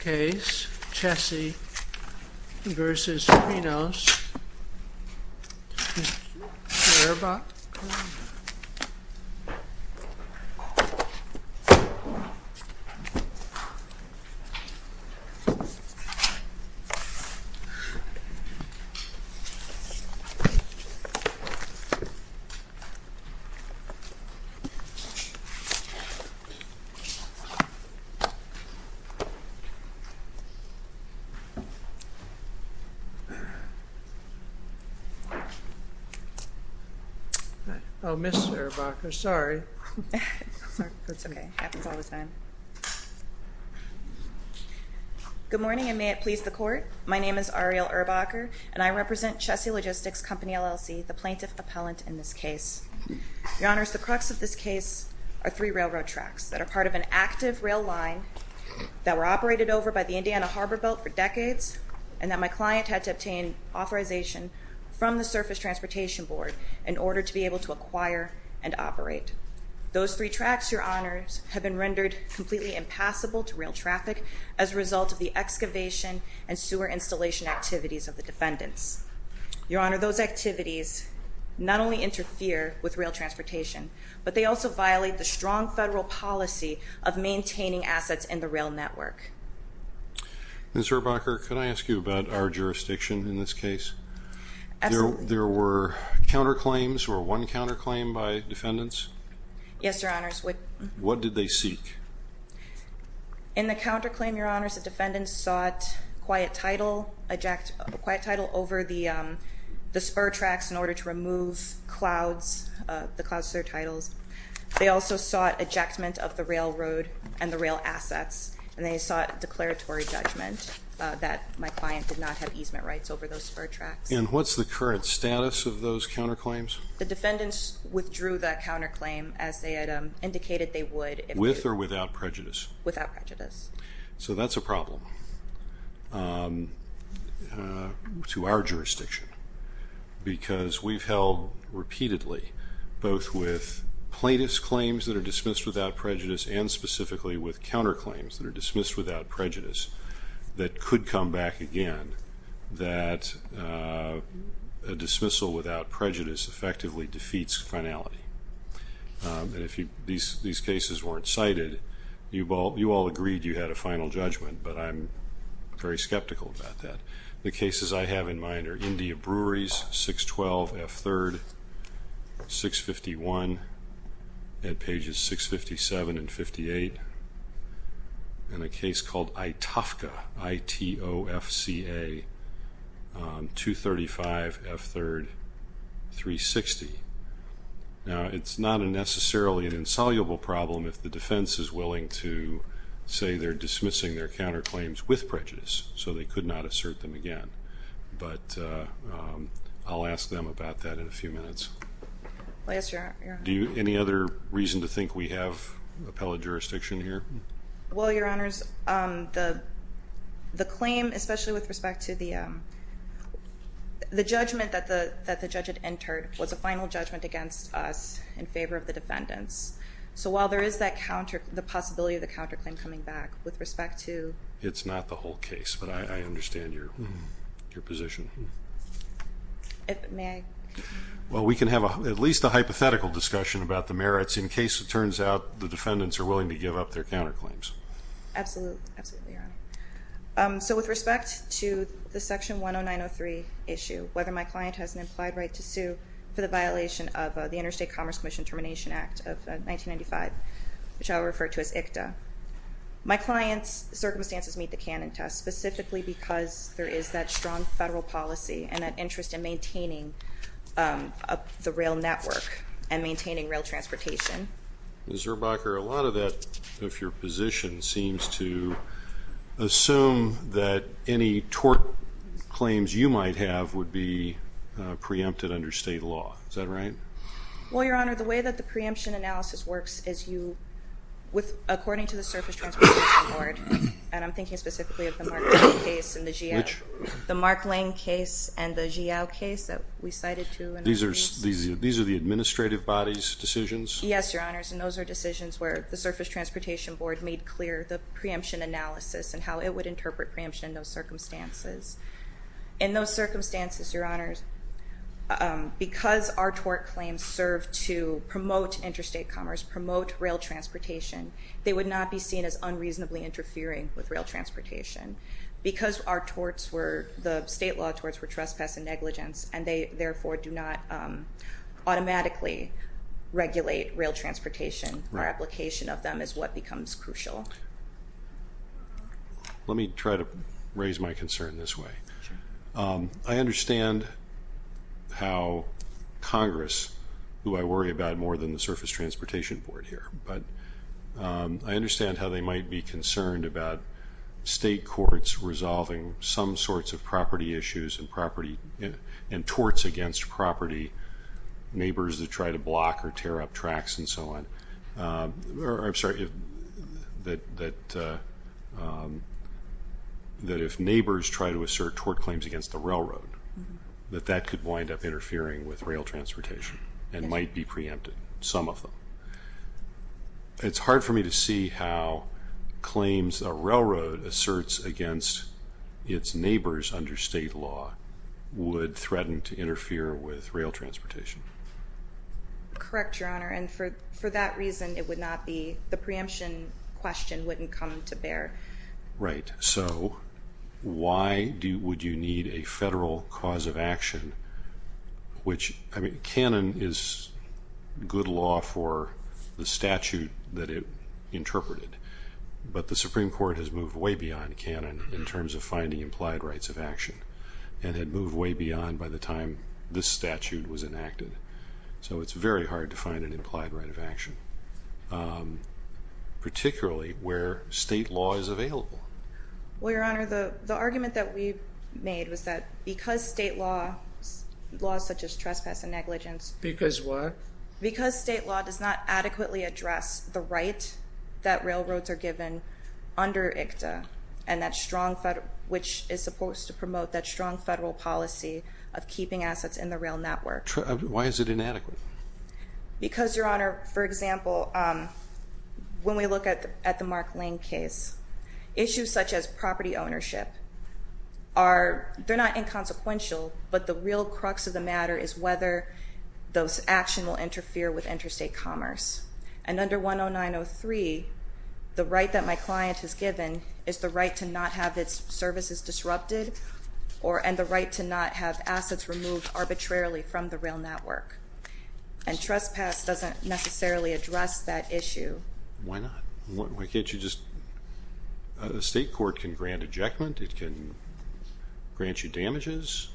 Case, Chessie v. Krinos Good morning, and may it please the court. My name is Ariel Erbacher, and I represent Chessie Logistics Company, LLC, the plaintiff appellant in this case. Your Honors, the crux of this case are three railroad tracks that are part of an active rail line that were operated over by the Indiana Harbor Belt for decades, and that my client had to obtain authorization from the Surface Transportation Board in order to be able to acquire and operate. Those three tracks, Your Honors, have been rendered completely impassable to rail traffic as a result of the excavation and sewer installation activities of the defendants. Your Honor, those activities not only interfere with rail transportation, but they also violate the strong federal policy of maintaining assets in the rail network. Ms. Erbacher, can I ask you about our jurisdiction in this case? Absolutely. There were counterclaims, or one counterclaim by defendants? Yes, Your Honors. What did they seek? In the counterclaim, Your Honors, the defendants sought quiet title over the spur tracks in order to remove the clouds to their titles. They also sought ejectment of the railroad and the rail assets, and they sought declaratory judgment that my client did not have easement rights over those spur tracks. And what's the current status of those counterclaims? The defendants withdrew that counterclaim as they had indicated they would. With or without prejudice? Without prejudice. So that's a problem to our jurisdiction because we've held repeatedly both with plaintiff's claims that are dismissed without prejudice and specifically with counterclaims that are dismissed without prejudice that could come back again that a dismissal without prejudice effectively defeats finality. And if these cases weren't cited, you all agreed you had a final judgment, but I'm very skeptical about that. The cases I have in mind are India Breweries, 612 F. 3rd, 651 at pages 657 and 58, and a case called Itofca, I-T-O-F-C-A, 235 F. 3rd, 360. Now, it's not necessarily an insoluble problem if the defense is willing to say they're dismissing their counterclaims with prejudice, so they could not assert them again. But I'll ask them about that in a few minutes. Do you have any other reason to think we have appellate jurisdiction here? Well, Your Honors, the claim, especially with respect to the judgment that the judge had entered, was a final judgment against us in favor of the defendants. So while there is the possibility of the counterclaim coming back, with respect to... It's not the whole case, but I understand your position. May I? Well, we can have at least a hypothetical discussion about the merits, in case it turns out the defendants are willing to give up their counterclaims. Absolutely, Your Honor. So with respect to the Section 10903 issue, whether my client has an implied right to sue for the violation of the Interstate Commerce Commission Termination Act of 1995, which I will refer to as ICTA, my client's circumstances meet the canon test, specifically because there is that strong federal policy and that interest in maintaining the rail network and maintaining rail transportation. Ms. Zurbacher, a lot of that, of your position, seems to assume that any tort claims you might have would be preempted under state law. Is that right? Well, Your Honor, the way that the preemption analysis works is you, according to the Surface Transportation Board, and I'm thinking specifically of the Mark Lane case and the Jiao case that we cited to... These are the administrative body's decisions? Yes, Your Honor, and those are decisions where the Surface Transportation Board made clear the preemption analysis and how it would interpret preemption in those circumstances. In those circumstances, Your Honor, because our tort claims serve to promote interstate commerce, promote rail transportation, they would not be seen as unreasonably interfering with rail transportation. Because our torts were, the state law torts were trespass and negligence and they therefore do not automatically regulate rail transportation, our application of them is what becomes crucial. Let me try to raise my concern this way. I understand how Congress, who I worry about more than the Surface Transportation Board here, but I understand how they might be concerned about state courts resolving some sorts of property issues and torts against property, neighbors that try to block or tear up tracks and so on. I'm sorry, that if neighbors try to assert tort claims against the railroad, that that could wind up interfering with rail transportation and might be preempted, some of them. It's hard for me to see how claims a railroad asserts against its neighbors under state law would threaten to interfere with rail transportation. Correct, Your Honor, and for that reason it would not be, the preemption question wouldn't come to bear. Right, so why would you need a federal cause of action which, I mean, canon is good law for the statute that it interpreted, but the Supreme Court has moved way beyond canon in terms of finding implied rights of action and had moved way beyond by the time this statute was enacted. So it's very hard to find an implied right of action, particularly where state law is available. Well, Your Honor, the argument that we made was that because state law, laws such as trespass and negligence. Because what? Because state law does not adequately address the right that railroads are given under ICTA and that strong, which is supposed to promote that strong federal policy of keeping assets in the rail network. Why is it inadequate? Because, Your Honor, for example, when we look at the Mark Lane case, issues such as property ownership are, they're not inconsequential, but the real crux of the matter is whether those actions will interfere with interstate commerce. And under 10903, the right that my client has given is the right to not have its services disrupted and the right to not have assets removed arbitrarily from the rail network. And trespass doesn't necessarily address that issue. Why not? Why can't you just? A state court can grant ejectment. It can grant you damages.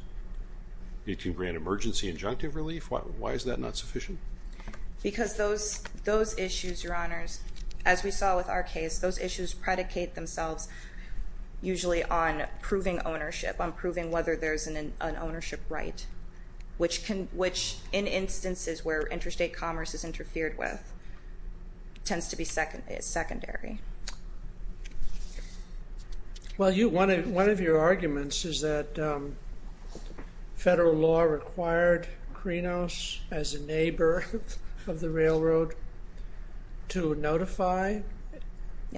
It can grant emergency injunctive relief. Why is that not sufficient? Because those issues, Your Honors, as we saw with our case, those issues predicate themselves usually on proving ownership, on proving whether there's an ownership right, which in instances where interstate commerce is interfered with tends to be secondary. Well, one of your arguments is that federal law required Krinos, as a neighbor of the railroad, to notify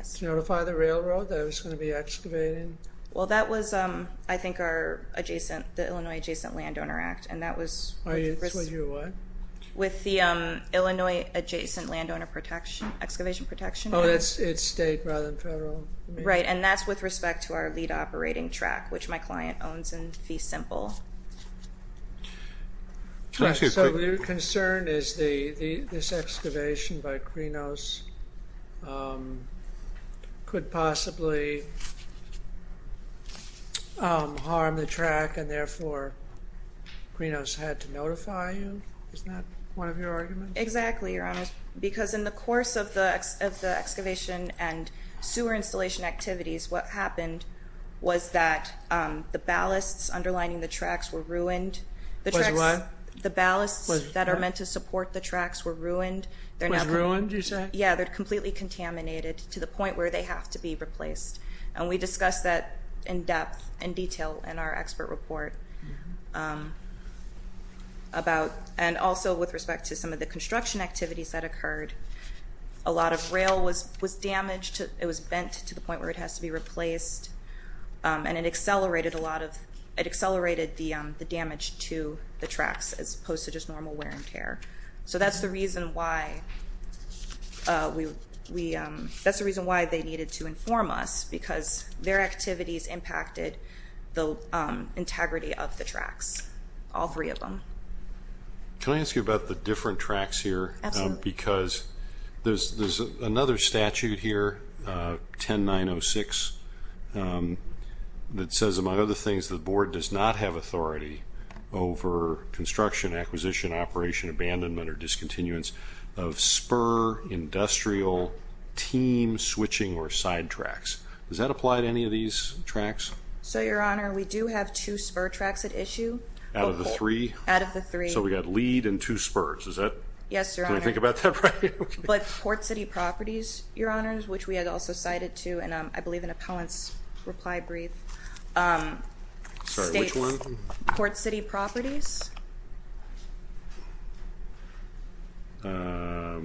the railroad that it was going to be excavating? Well, that was, I think, our adjacent, the Illinois Adjacent Landowner Act, and that was with the Illinois Adjacent Landowner Excavation Protection Act. Oh, it's state rather than federal? Right, and that's with respect to our lead operating track, which my client owns in Fee Simple. So your concern is this excavation by Krinos could possibly harm the track, and therefore Krinos had to notify you? Isn't that one of your arguments? Exactly, Your Honors, because in the course of the excavation and sewer installation activities, what happened was that the ballasts underlining the tracks were ruined. Was what? The ballasts that are meant to support the tracks were ruined. Was ruined, you said? Yeah, they're completely contaminated to the point where they have to be replaced. And we discussed that in depth, in detail, in our expert report. And also with respect to some of the construction activities that occurred, a lot of rail was damaged. It was bent to the point where it has to be replaced, and it accelerated the damage to the tracks as opposed to just normal wear and tear. So that's the reason why they needed to inform us, because their activities impacted the integrity of the tracks, all three of them. Can I ask you about the different tracks here? Absolutely. Because there's another statute here, 10906, that says, among other things, the board does not have authority over construction, acquisition, operation, abandonment, or discontinuance of spur, industrial, team switching, or side tracks. Does that apply to any of these tracks? So, Your Honor, we do have two spur tracks at issue. Out of the three? Out of the three. So we've got lead and two spurs, is that? Yes, Your Honor. Did I think about that right? But Port City Properties, Your Honors, which we had also cited too, and I believe an appellant's reply brief states, Sorry, which one? Port City Properties. Ah,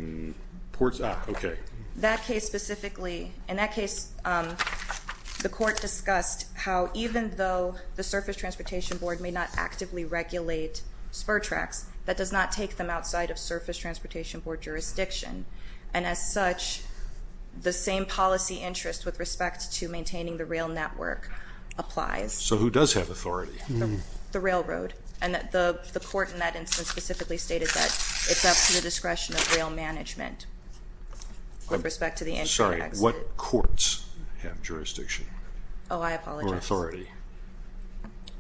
okay. That case specifically, in that case, the court discussed how even though the Surface Transportation Board may not jurisdiction, and as such, the same policy interest with respect to maintaining the rail network applies. So who does have authority? The railroad. And the court in that instance specifically stated that it's up to the discretion of rail management with respect to the entry and exit. Sorry, what courts have jurisdiction? Oh, I apologize. Or authority?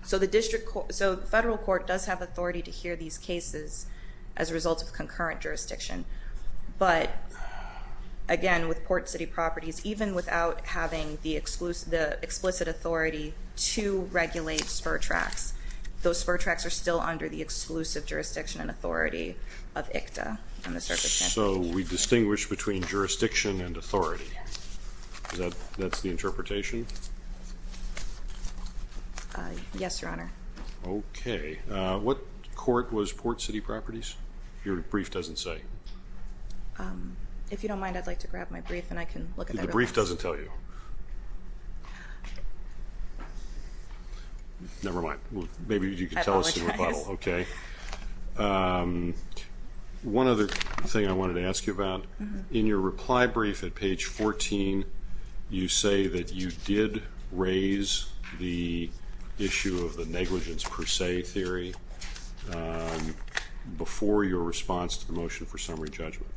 So the district court, so the federal court does have authority to hear these cases as a result of concurrent jurisdiction. But, again, with Port City Properties, even without having the explicit authority to regulate spur tracks, those spur tracks are still under the exclusive jurisdiction and authority of ICTA and the Surface Transportation Board. So we distinguish between jurisdiction and authority. Yes. That's the interpretation? Yes, Your Honor. Okay. What court was Port City Properties? Your brief doesn't say. If you don't mind, I'd like to grab my brief and I can look at that. The brief doesn't tell you. Never mind. Maybe you can tell us the rebuttal. I apologize. Okay. One other thing I wanted to ask you about, in your reply brief at page 14, you say that you did raise the issue of the negligence per se theory before your response to the motion for summary judgment.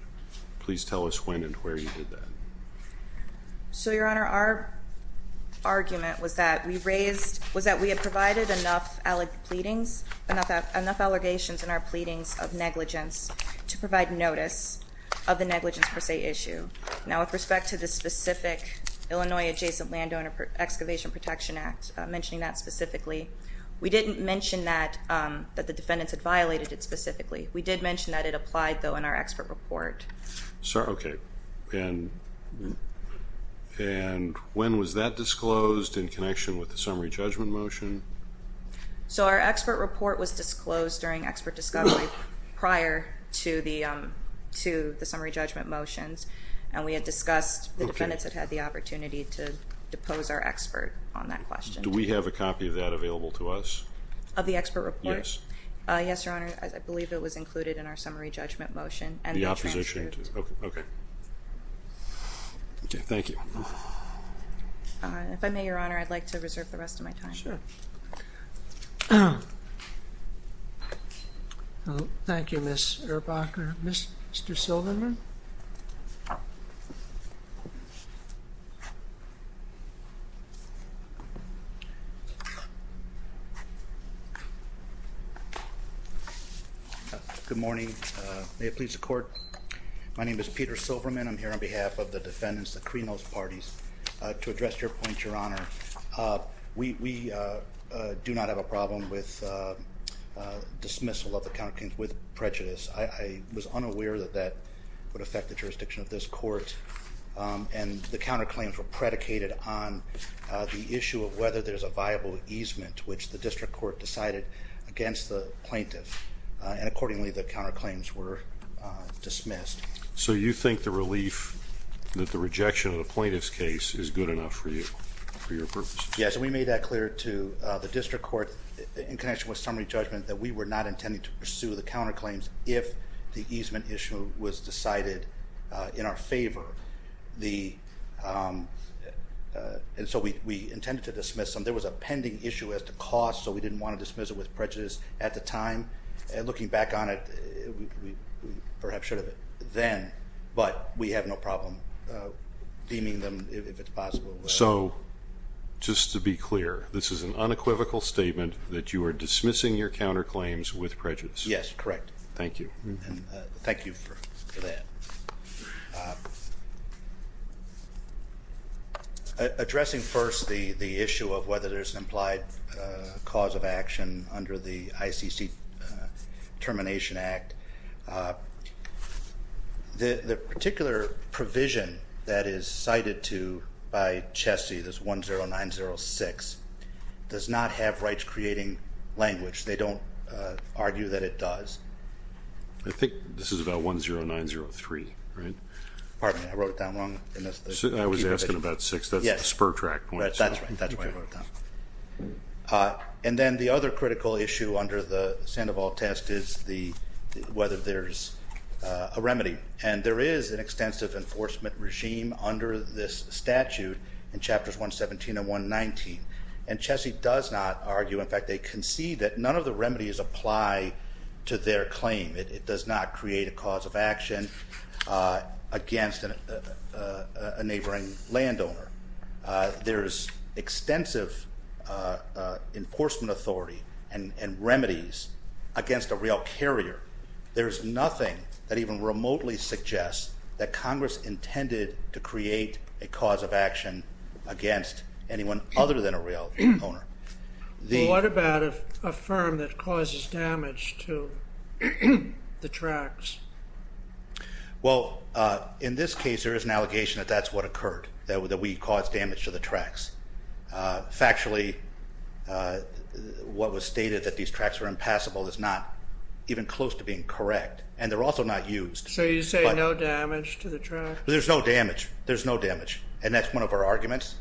Please tell us when and where you did that. So, Your Honor, our argument was that we raised, was that we had provided enough allegations in our pleadings of negligence to provide notice of the negligence per se issue. Now, with respect to the specific Illinois Adjacent Landowner Excavation Protection Act, mentioning that specifically, we didn't mention that the defendants had violated it specifically. We did mention that it applied, though, in our expert report. Okay. And when was that disclosed in connection with the summary judgment motion? So our expert report was disclosed during expert discovery prior to the summary judgment motions, and we had discussed the defendants had had the opportunity to depose our expert on that question. Do we have a copy of that available to us? Of the expert report? Yes. Yes, Your Honor. I believe it was included in our summary judgment motion. And the opposition, too. Okay. Okay. Okay. Thank you. If I may, Your Honor, I'd like to reserve the rest of my time. Sure. Thank you, Ms. Erbacher. Mr. Silverman? Good morning. May it please the Court. My name is Peter Silverman. I'm here on behalf of the defendants, the Krinos parties. To address your point, Your Honor, we do not have a problem with dismissal of the counterclaims with prejudice. I was unaware that that would affect the jurisdiction of this court, and the counterclaims were predicated on the issue of whether there's a viable easement, which the district court decided against the plaintiff. And accordingly, the counterclaims were dismissed. So you think the relief that the rejection of the plaintiff's case is good enough for you, for your purpose? Yes. And we made that clear to the district court, in connection with summary judgment, that we were not intending to pursue the counterclaims if the easement issue was decided in our favor. And so we intended to dismiss them. There was a pending issue as to cost, so we didn't want to dismiss it with prejudice at the time. And looking back on it, we perhaps should have then. But we have no problem deeming them if it's possible. So just to be clear, this is an unequivocal statement that you are dismissing your counterclaims with prejudice? Yes, correct. Thank you. And thank you for that. Addressing first the issue of whether there's an implied cause of action under the ICC Termination Act. The particular provision that is cited by Chessie, this 10906, does not have rights creating language. They don't argue that it does. I think this is about 10903, right? Pardon me. I wrote it down wrong. I was asking about six. That's the spur track. That's right. And then the other critical issue under the Sandoval test is whether there's a remedy. And there is an extensive enforcement regime under this statute in Chapters 117 and 119. And Chessie does not argue. In fact, they concede that none of the remedies apply to their claim. It does not create a cause of action against a neighboring landowner. There's extensive enforcement authority and remedies against a rail carrier. There's nothing that even remotely suggests that Congress intended to create a cause of action against anyone other than a rail owner. What about a firm that causes damage to the tracks? Well, in this case, there is an allegation that that's what occurred, that we caused damage to the tracks. Factually, what was stated that these tracks were impassable is not even close to being correct. And they're also not used. So you say no damage to the track? There's no damage. There's no damage. And that's one of our arguments.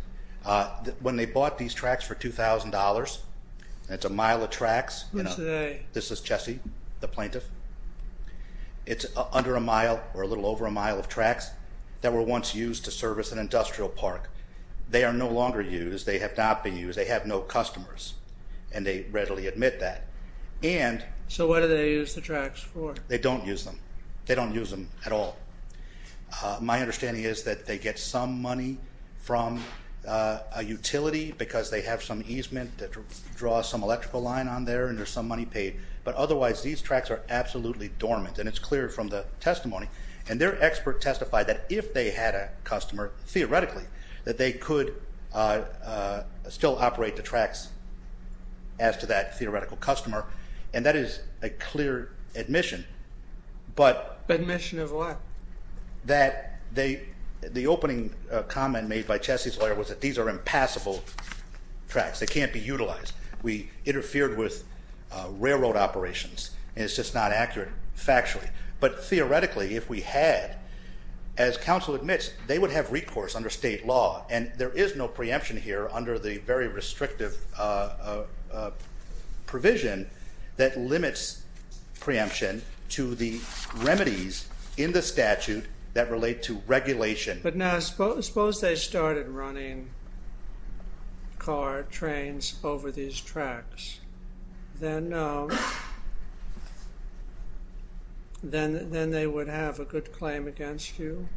When they bought these tracks for $2,000, it's a mile of tracks. This is Chessie, the plaintiff. It's under a mile or a little over a mile of tracks. They were once used to service an industrial park. They are no longer used. They have not been used. They have no customers. And they readily admit that. So what do they use the tracks for? They don't use them. They don't use them at all. My understanding is that they get some money from a utility because they have some easement that draws some electrical line on there, and there's some money paid. But otherwise, these tracks are absolutely dormant, and it's clear from the testimony. And their expert testified that if they had a customer, theoretically, that they could still operate the tracks as to that theoretical customer. And that is a clear admission. Admission of what? That the opening comment made by Chessie's lawyer was that these are impassable tracks. They can't be utilized. We interfered with railroad operations, and it's just not accurate factually. But theoretically, if we had, as counsel admits, they would have recourse under state law. And there is no preemption here under the very restrictive provision that limits preemption to the remedies in the statute that relate to regulation. But now, suppose they started running car trains over these tracks. Then no. Then they would have a good claim against you,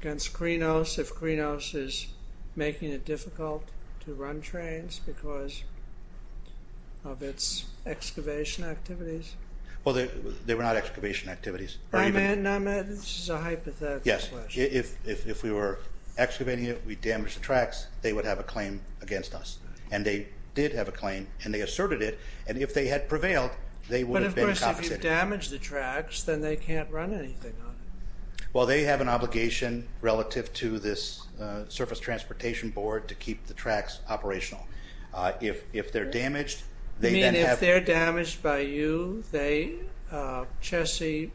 against Krinos, if Krinos is making it difficult to run trains because of its excavation activities? Well, they were not excavation activities. This is a hypothetical question. Yes. If we were excavating it, they would have a claim against us. And they did have a claim, and they asserted it. And if they had prevailed, they would have been compensated. But of course, if you damage the tracks, then they can't run anything on it. Well, they have an obligation relative to this surface transportation board to keep the tracks operational. If they're damaged, they then have... You mean if they're damaged by you, they, Chessie,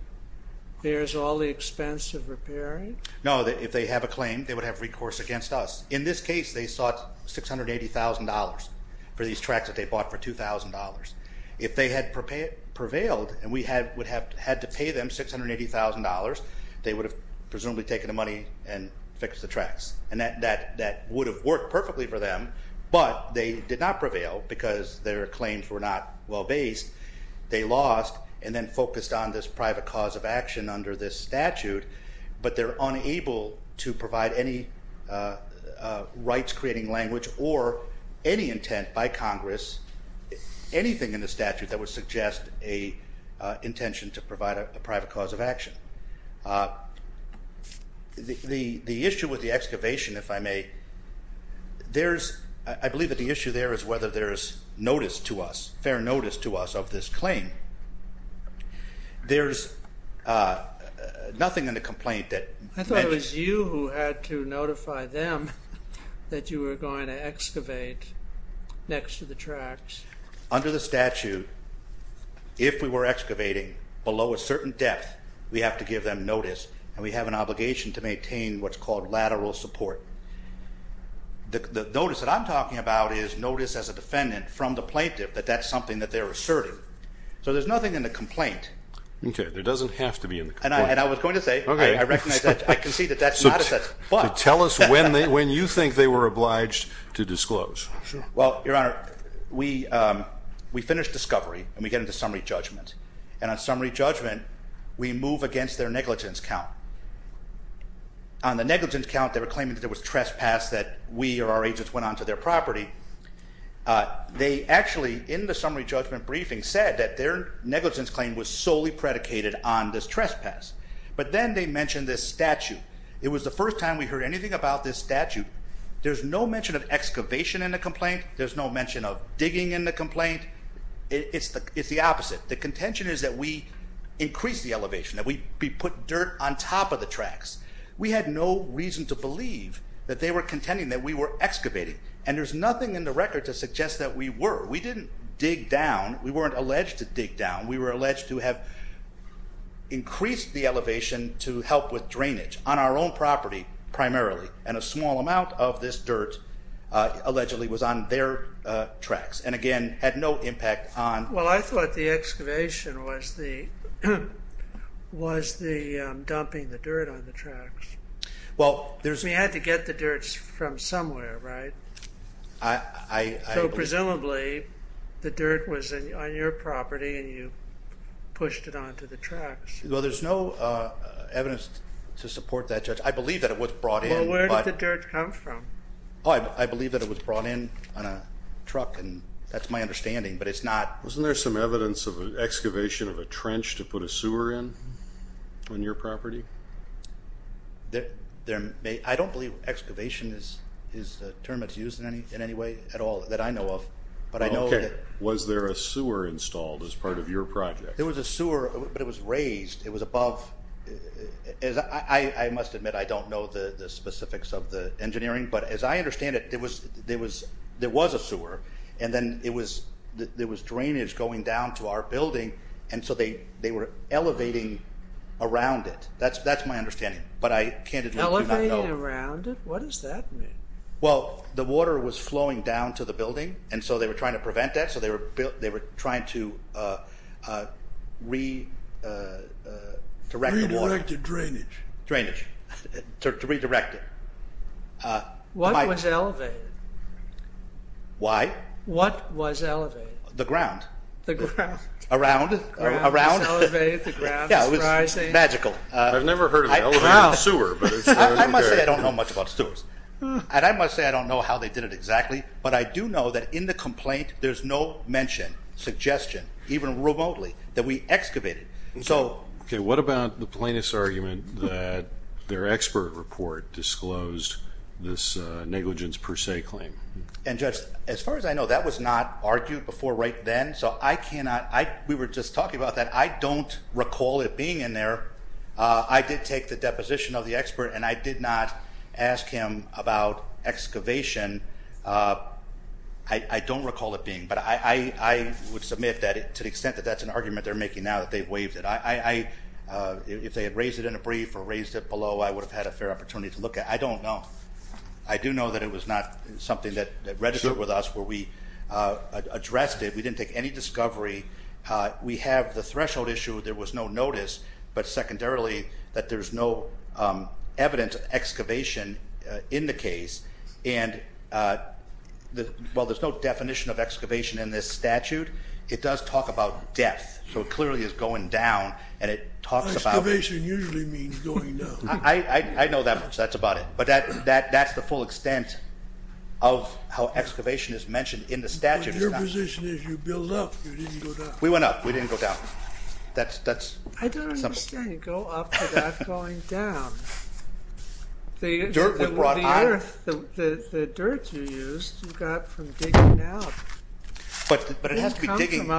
bears all the expense of repairing? No. If they have a claim, they would have recourse against us. In this case, they sought $680,000 for these tracks that they bought for $2,000. If they had prevailed, and we would have had to pay them $680,000, they would have presumably taken the money and fixed the tracks. And that would have worked perfectly for them, but they did not prevail because their claims were not well-based. They lost, and then focused on this private cause of action under this statute. But they're unable to provide any rights-creating language or any intent by Congress, anything in the statute, that would suggest an intention to provide a private cause of action. The issue with the excavation, if I may, there's... I believe that the issue there is whether there's notice to us, fair notice to us of this claim. There's nothing in the complaint that... I thought it was you who had to notify them that you were going to excavate next to the tracks. Under the statute, if we were excavating below a certain depth, we have to give them notice, and we have an obligation to maintain what's called lateral support. The notice that I'm talking about is notice as a defendant from the plaintiff that that's something that they're asserting. So there's nothing in the complaint. Okay. There doesn't have to be in the complaint. And I was going to say, I recognize that. I can see that that's not a... Tell us when you think they were obliged to disclose. Well, Your Honor, we finished discovery, and we get into summary judgment. And on summary judgment, we move against their negligence count. On the negligence count, they were claiming that there was trespass, that we or our agents went onto their property. They actually, in the summary judgment briefing, said that their negligence claim was solely predicated on this trespass. But then they mentioned this statute. It was the first time we heard anything about this statute. There's no mention of excavation in the complaint. There's no mention of digging in the complaint. It's the opposite. The contention is that we increased the elevation, that we put dirt on top of the tracks. We had no reason to believe that they were contending that we were excavating. And there's nothing in the record to suggest that we were. We didn't dig down. We weren't alleged to dig down. We were alleged to have increased the elevation to help with drainage, on our own property, primarily. And a small amount of this dirt, allegedly, was on their tracks. And again, had no impact on... Well, I thought the excavation was the dumping the dirt on the tracks. We had to get the dirt from somewhere, right? So, presumably, the dirt was on your property, and you pushed it onto the tracks. Well, there's no evidence to support that, Judge. I believe that it was brought in. Well, where did the dirt come from? I believe that it was brought in on a truck, and that's my understanding, but it's not... Wasn't there some evidence of an excavation of a trench to put a sewer in on your property? I don't believe excavation is a term that's used in any way at all that I know of, but I know that... Okay. Was there a sewer installed as part of your project? There was a sewer, but it was raised. It was above... I must admit I don't know the specifics of the engineering, but as I understand it, there was a sewer, and then there was drainage going down to our building, and so they were elevating around it. That's my understanding, but I candidly do not know... Elevating around it? What does that mean? Well, the water was flowing down to the building, and so they were trying to prevent that, so they were trying to redirect the water... Redirect the drainage. Drainage, to redirect it. What was elevated? Why? What was elevated? The ground. The ground. Around. The ground was elevated, the ground was rising. Magical. I've never heard of an elevated sewer, but... I must say I don't know much about sewers, and I must say I don't know how they did it exactly, but I do know that in the complaint, there's no mention, suggestion, even remotely, that we excavated. Okay. What about the plaintiff's argument that their expert report disclosed this negligence per se claim? And, Judge, as far as I know, that was not argued before right then, so I cannot... We were just talking about that. I don't recall it being in there. I did take the deposition of the expert, and I did not ask him about excavation. I don't recall it being, but I would submit to the extent that that's an argument they're making now that they've waived it. If they had raised it in a brief or raised it below, I would have had a fair opportunity to look at it. I don't know. I do know that it was not something that registered with us where we addressed it. We didn't take any discovery. We have the threshold issue there was no notice, but secondarily that there's no evidence of excavation in the case. And while there's no definition of excavation in this statute, it does talk about depth. So it clearly is going down, and it talks about... Excavation usually means going down. I know that much. That's about it. But that's the full extent of how excavation is mentioned in the statute. Your position is you build up, you didn't go down. We went up. We didn't go down. I don't understand. Go up without going down. The earth, the dirt you used, you got from digging it up. But it has to be digging.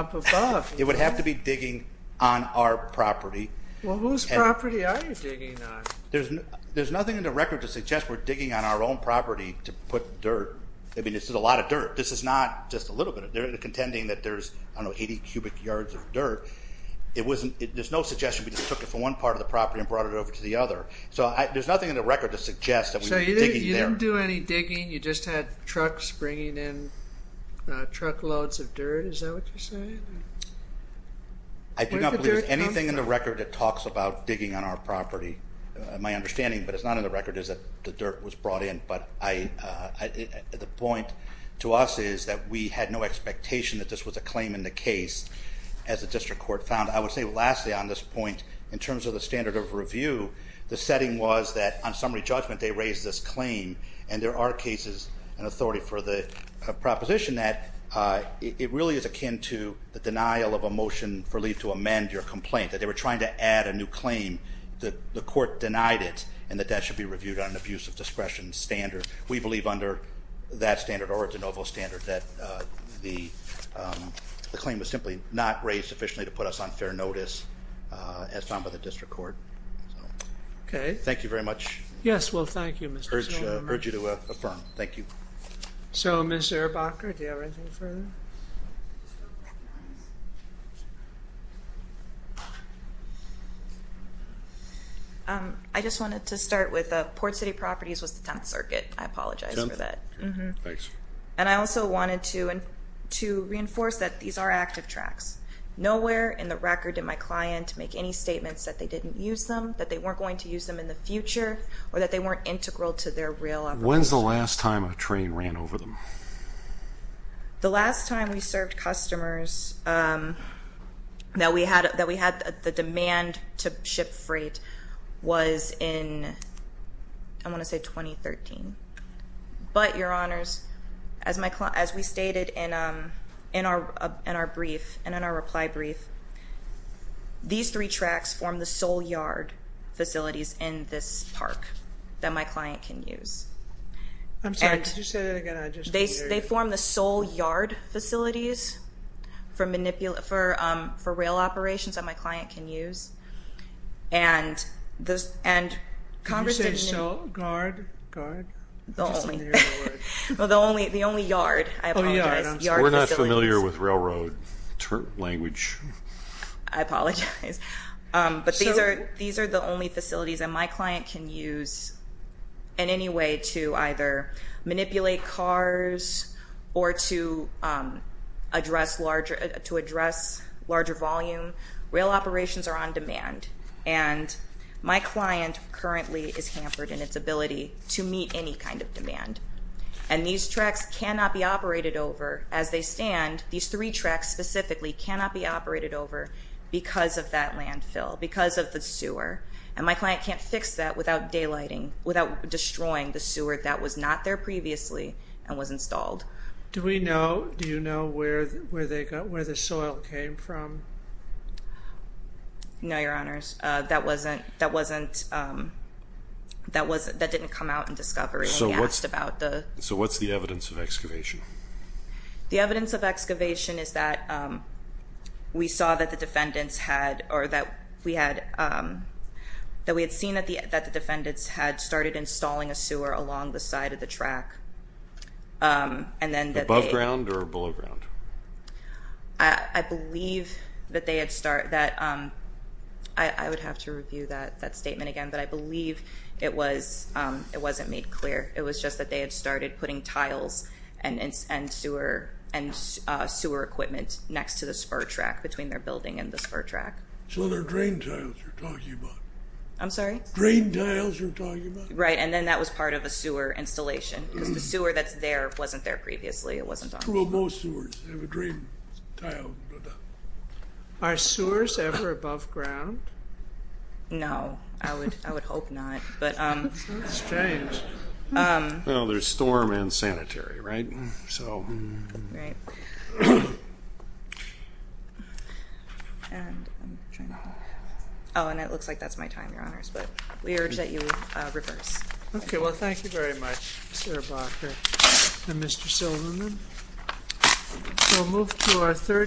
It would have to be digging on our property. Well, whose property are you digging on? There's nothing in the record to suggest we're digging on our own property to put dirt. I mean, this is a lot of dirt. This is not just a little bit of dirt. They're contending that there's, I don't know, 80 cubic yards of dirt. There's no suggestion we just took it from one part of the property and brought it over to the other. So there's nothing in the record to suggest that we're digging there. So you didn't do any digging. You just had trucks bringing in truckloads of dirt. Is that what you're saying? I do not believe there's anything in the record that talks about digging on our property. My understanding, but it's not in the record, is that the dirt was brought in. But the point to us is that we had no expectation that this was a claim in the case, as the district court found. I would say, lastly, on this point, in terms of the standard of review, the setting was that on summary judgment they raised this claim, and there are cases and authority for the proposition that it really is akin to the denial of a motion for leave to amend your complaint, that they were trying to add a new claim. The court denied it, and that that should be reviewed on an abuse of discretion standard. We believe under that standard or a de novo standard that the claim was simply not raised sufficiently to put us on fair notice, as found by the district court. Okay. Thank you very much. Yes, well, thank you, Mr. Silverman. I urge you to affirm. Thank you. So, Ms. Zuerbacher, do you have anything further? I just wanted to start with Port City Properties was the 10th circuit. I apologize for that. 10th? Okay. Thanks. And I also wanted to reinforce that these are active tracks. Nowhere in the record did my client make any statements that they didn't use them, that they weren't going to use them in the future, or that they weren't integral to their real operation. When's the last time a train ran over them? The last time we served customers that we had the demand to ship freight was in, I want to say, 2013. But, Your Honors, as we stated in our brief and in our reply brief, these three tracks form the sole yard facilities in this park that my client can use. I'm sorry. Could you say that again? They form the sole yard facilities for rail operations that my client can use. Did you say sole, guard, guard? The only yard, I apologize. We're not familiar with railroad language. I apologize. But these are the only facilities that my client can use in any way to either manipulate cars or to address larger volume. Rail operations are on demand, and my client currently is hampered in its ability to meet any kind of demand. And these tracks cannot be operated over as they stand. These three tracks specifically cannot be operated over because of that landfill, because of the sewer. And my client can't fix that without daylighting, without destroying the sewer that was not there previously and was installed. Do we know, do you know where the soil came from? No, Your Honors. That didn't come out in discovery. So what's the evidence of excavation? The evidence of excavation is that we saw that the defendants had, or that we had seen that the defendants had started installing a sewer along the side of the track. Above ground or below ground? I believe that they had started, I would have to review that statement again, but I believe it wasn't made clear. It was just that they had started putting tiles and sewer equipment next to the spur track, between their building and the spur track. So they're drain tiles you're talking about? I'm sorry? Drain tiles you're talking about? Right, and then that was part of the sewer installation, because the sewer that's there wasn't there previously. Well, most sewers have a drain tile. Are sewers ever above ground? No, I would hope not. That's strange. Well, there's storm and sanitary, right? Right. Oh, and it looks like that's my time, Your Honors, but we urge that you reverse. Okay, well, thank you very much, Sir Barker and Mr. Silverman. We'll move to our third question.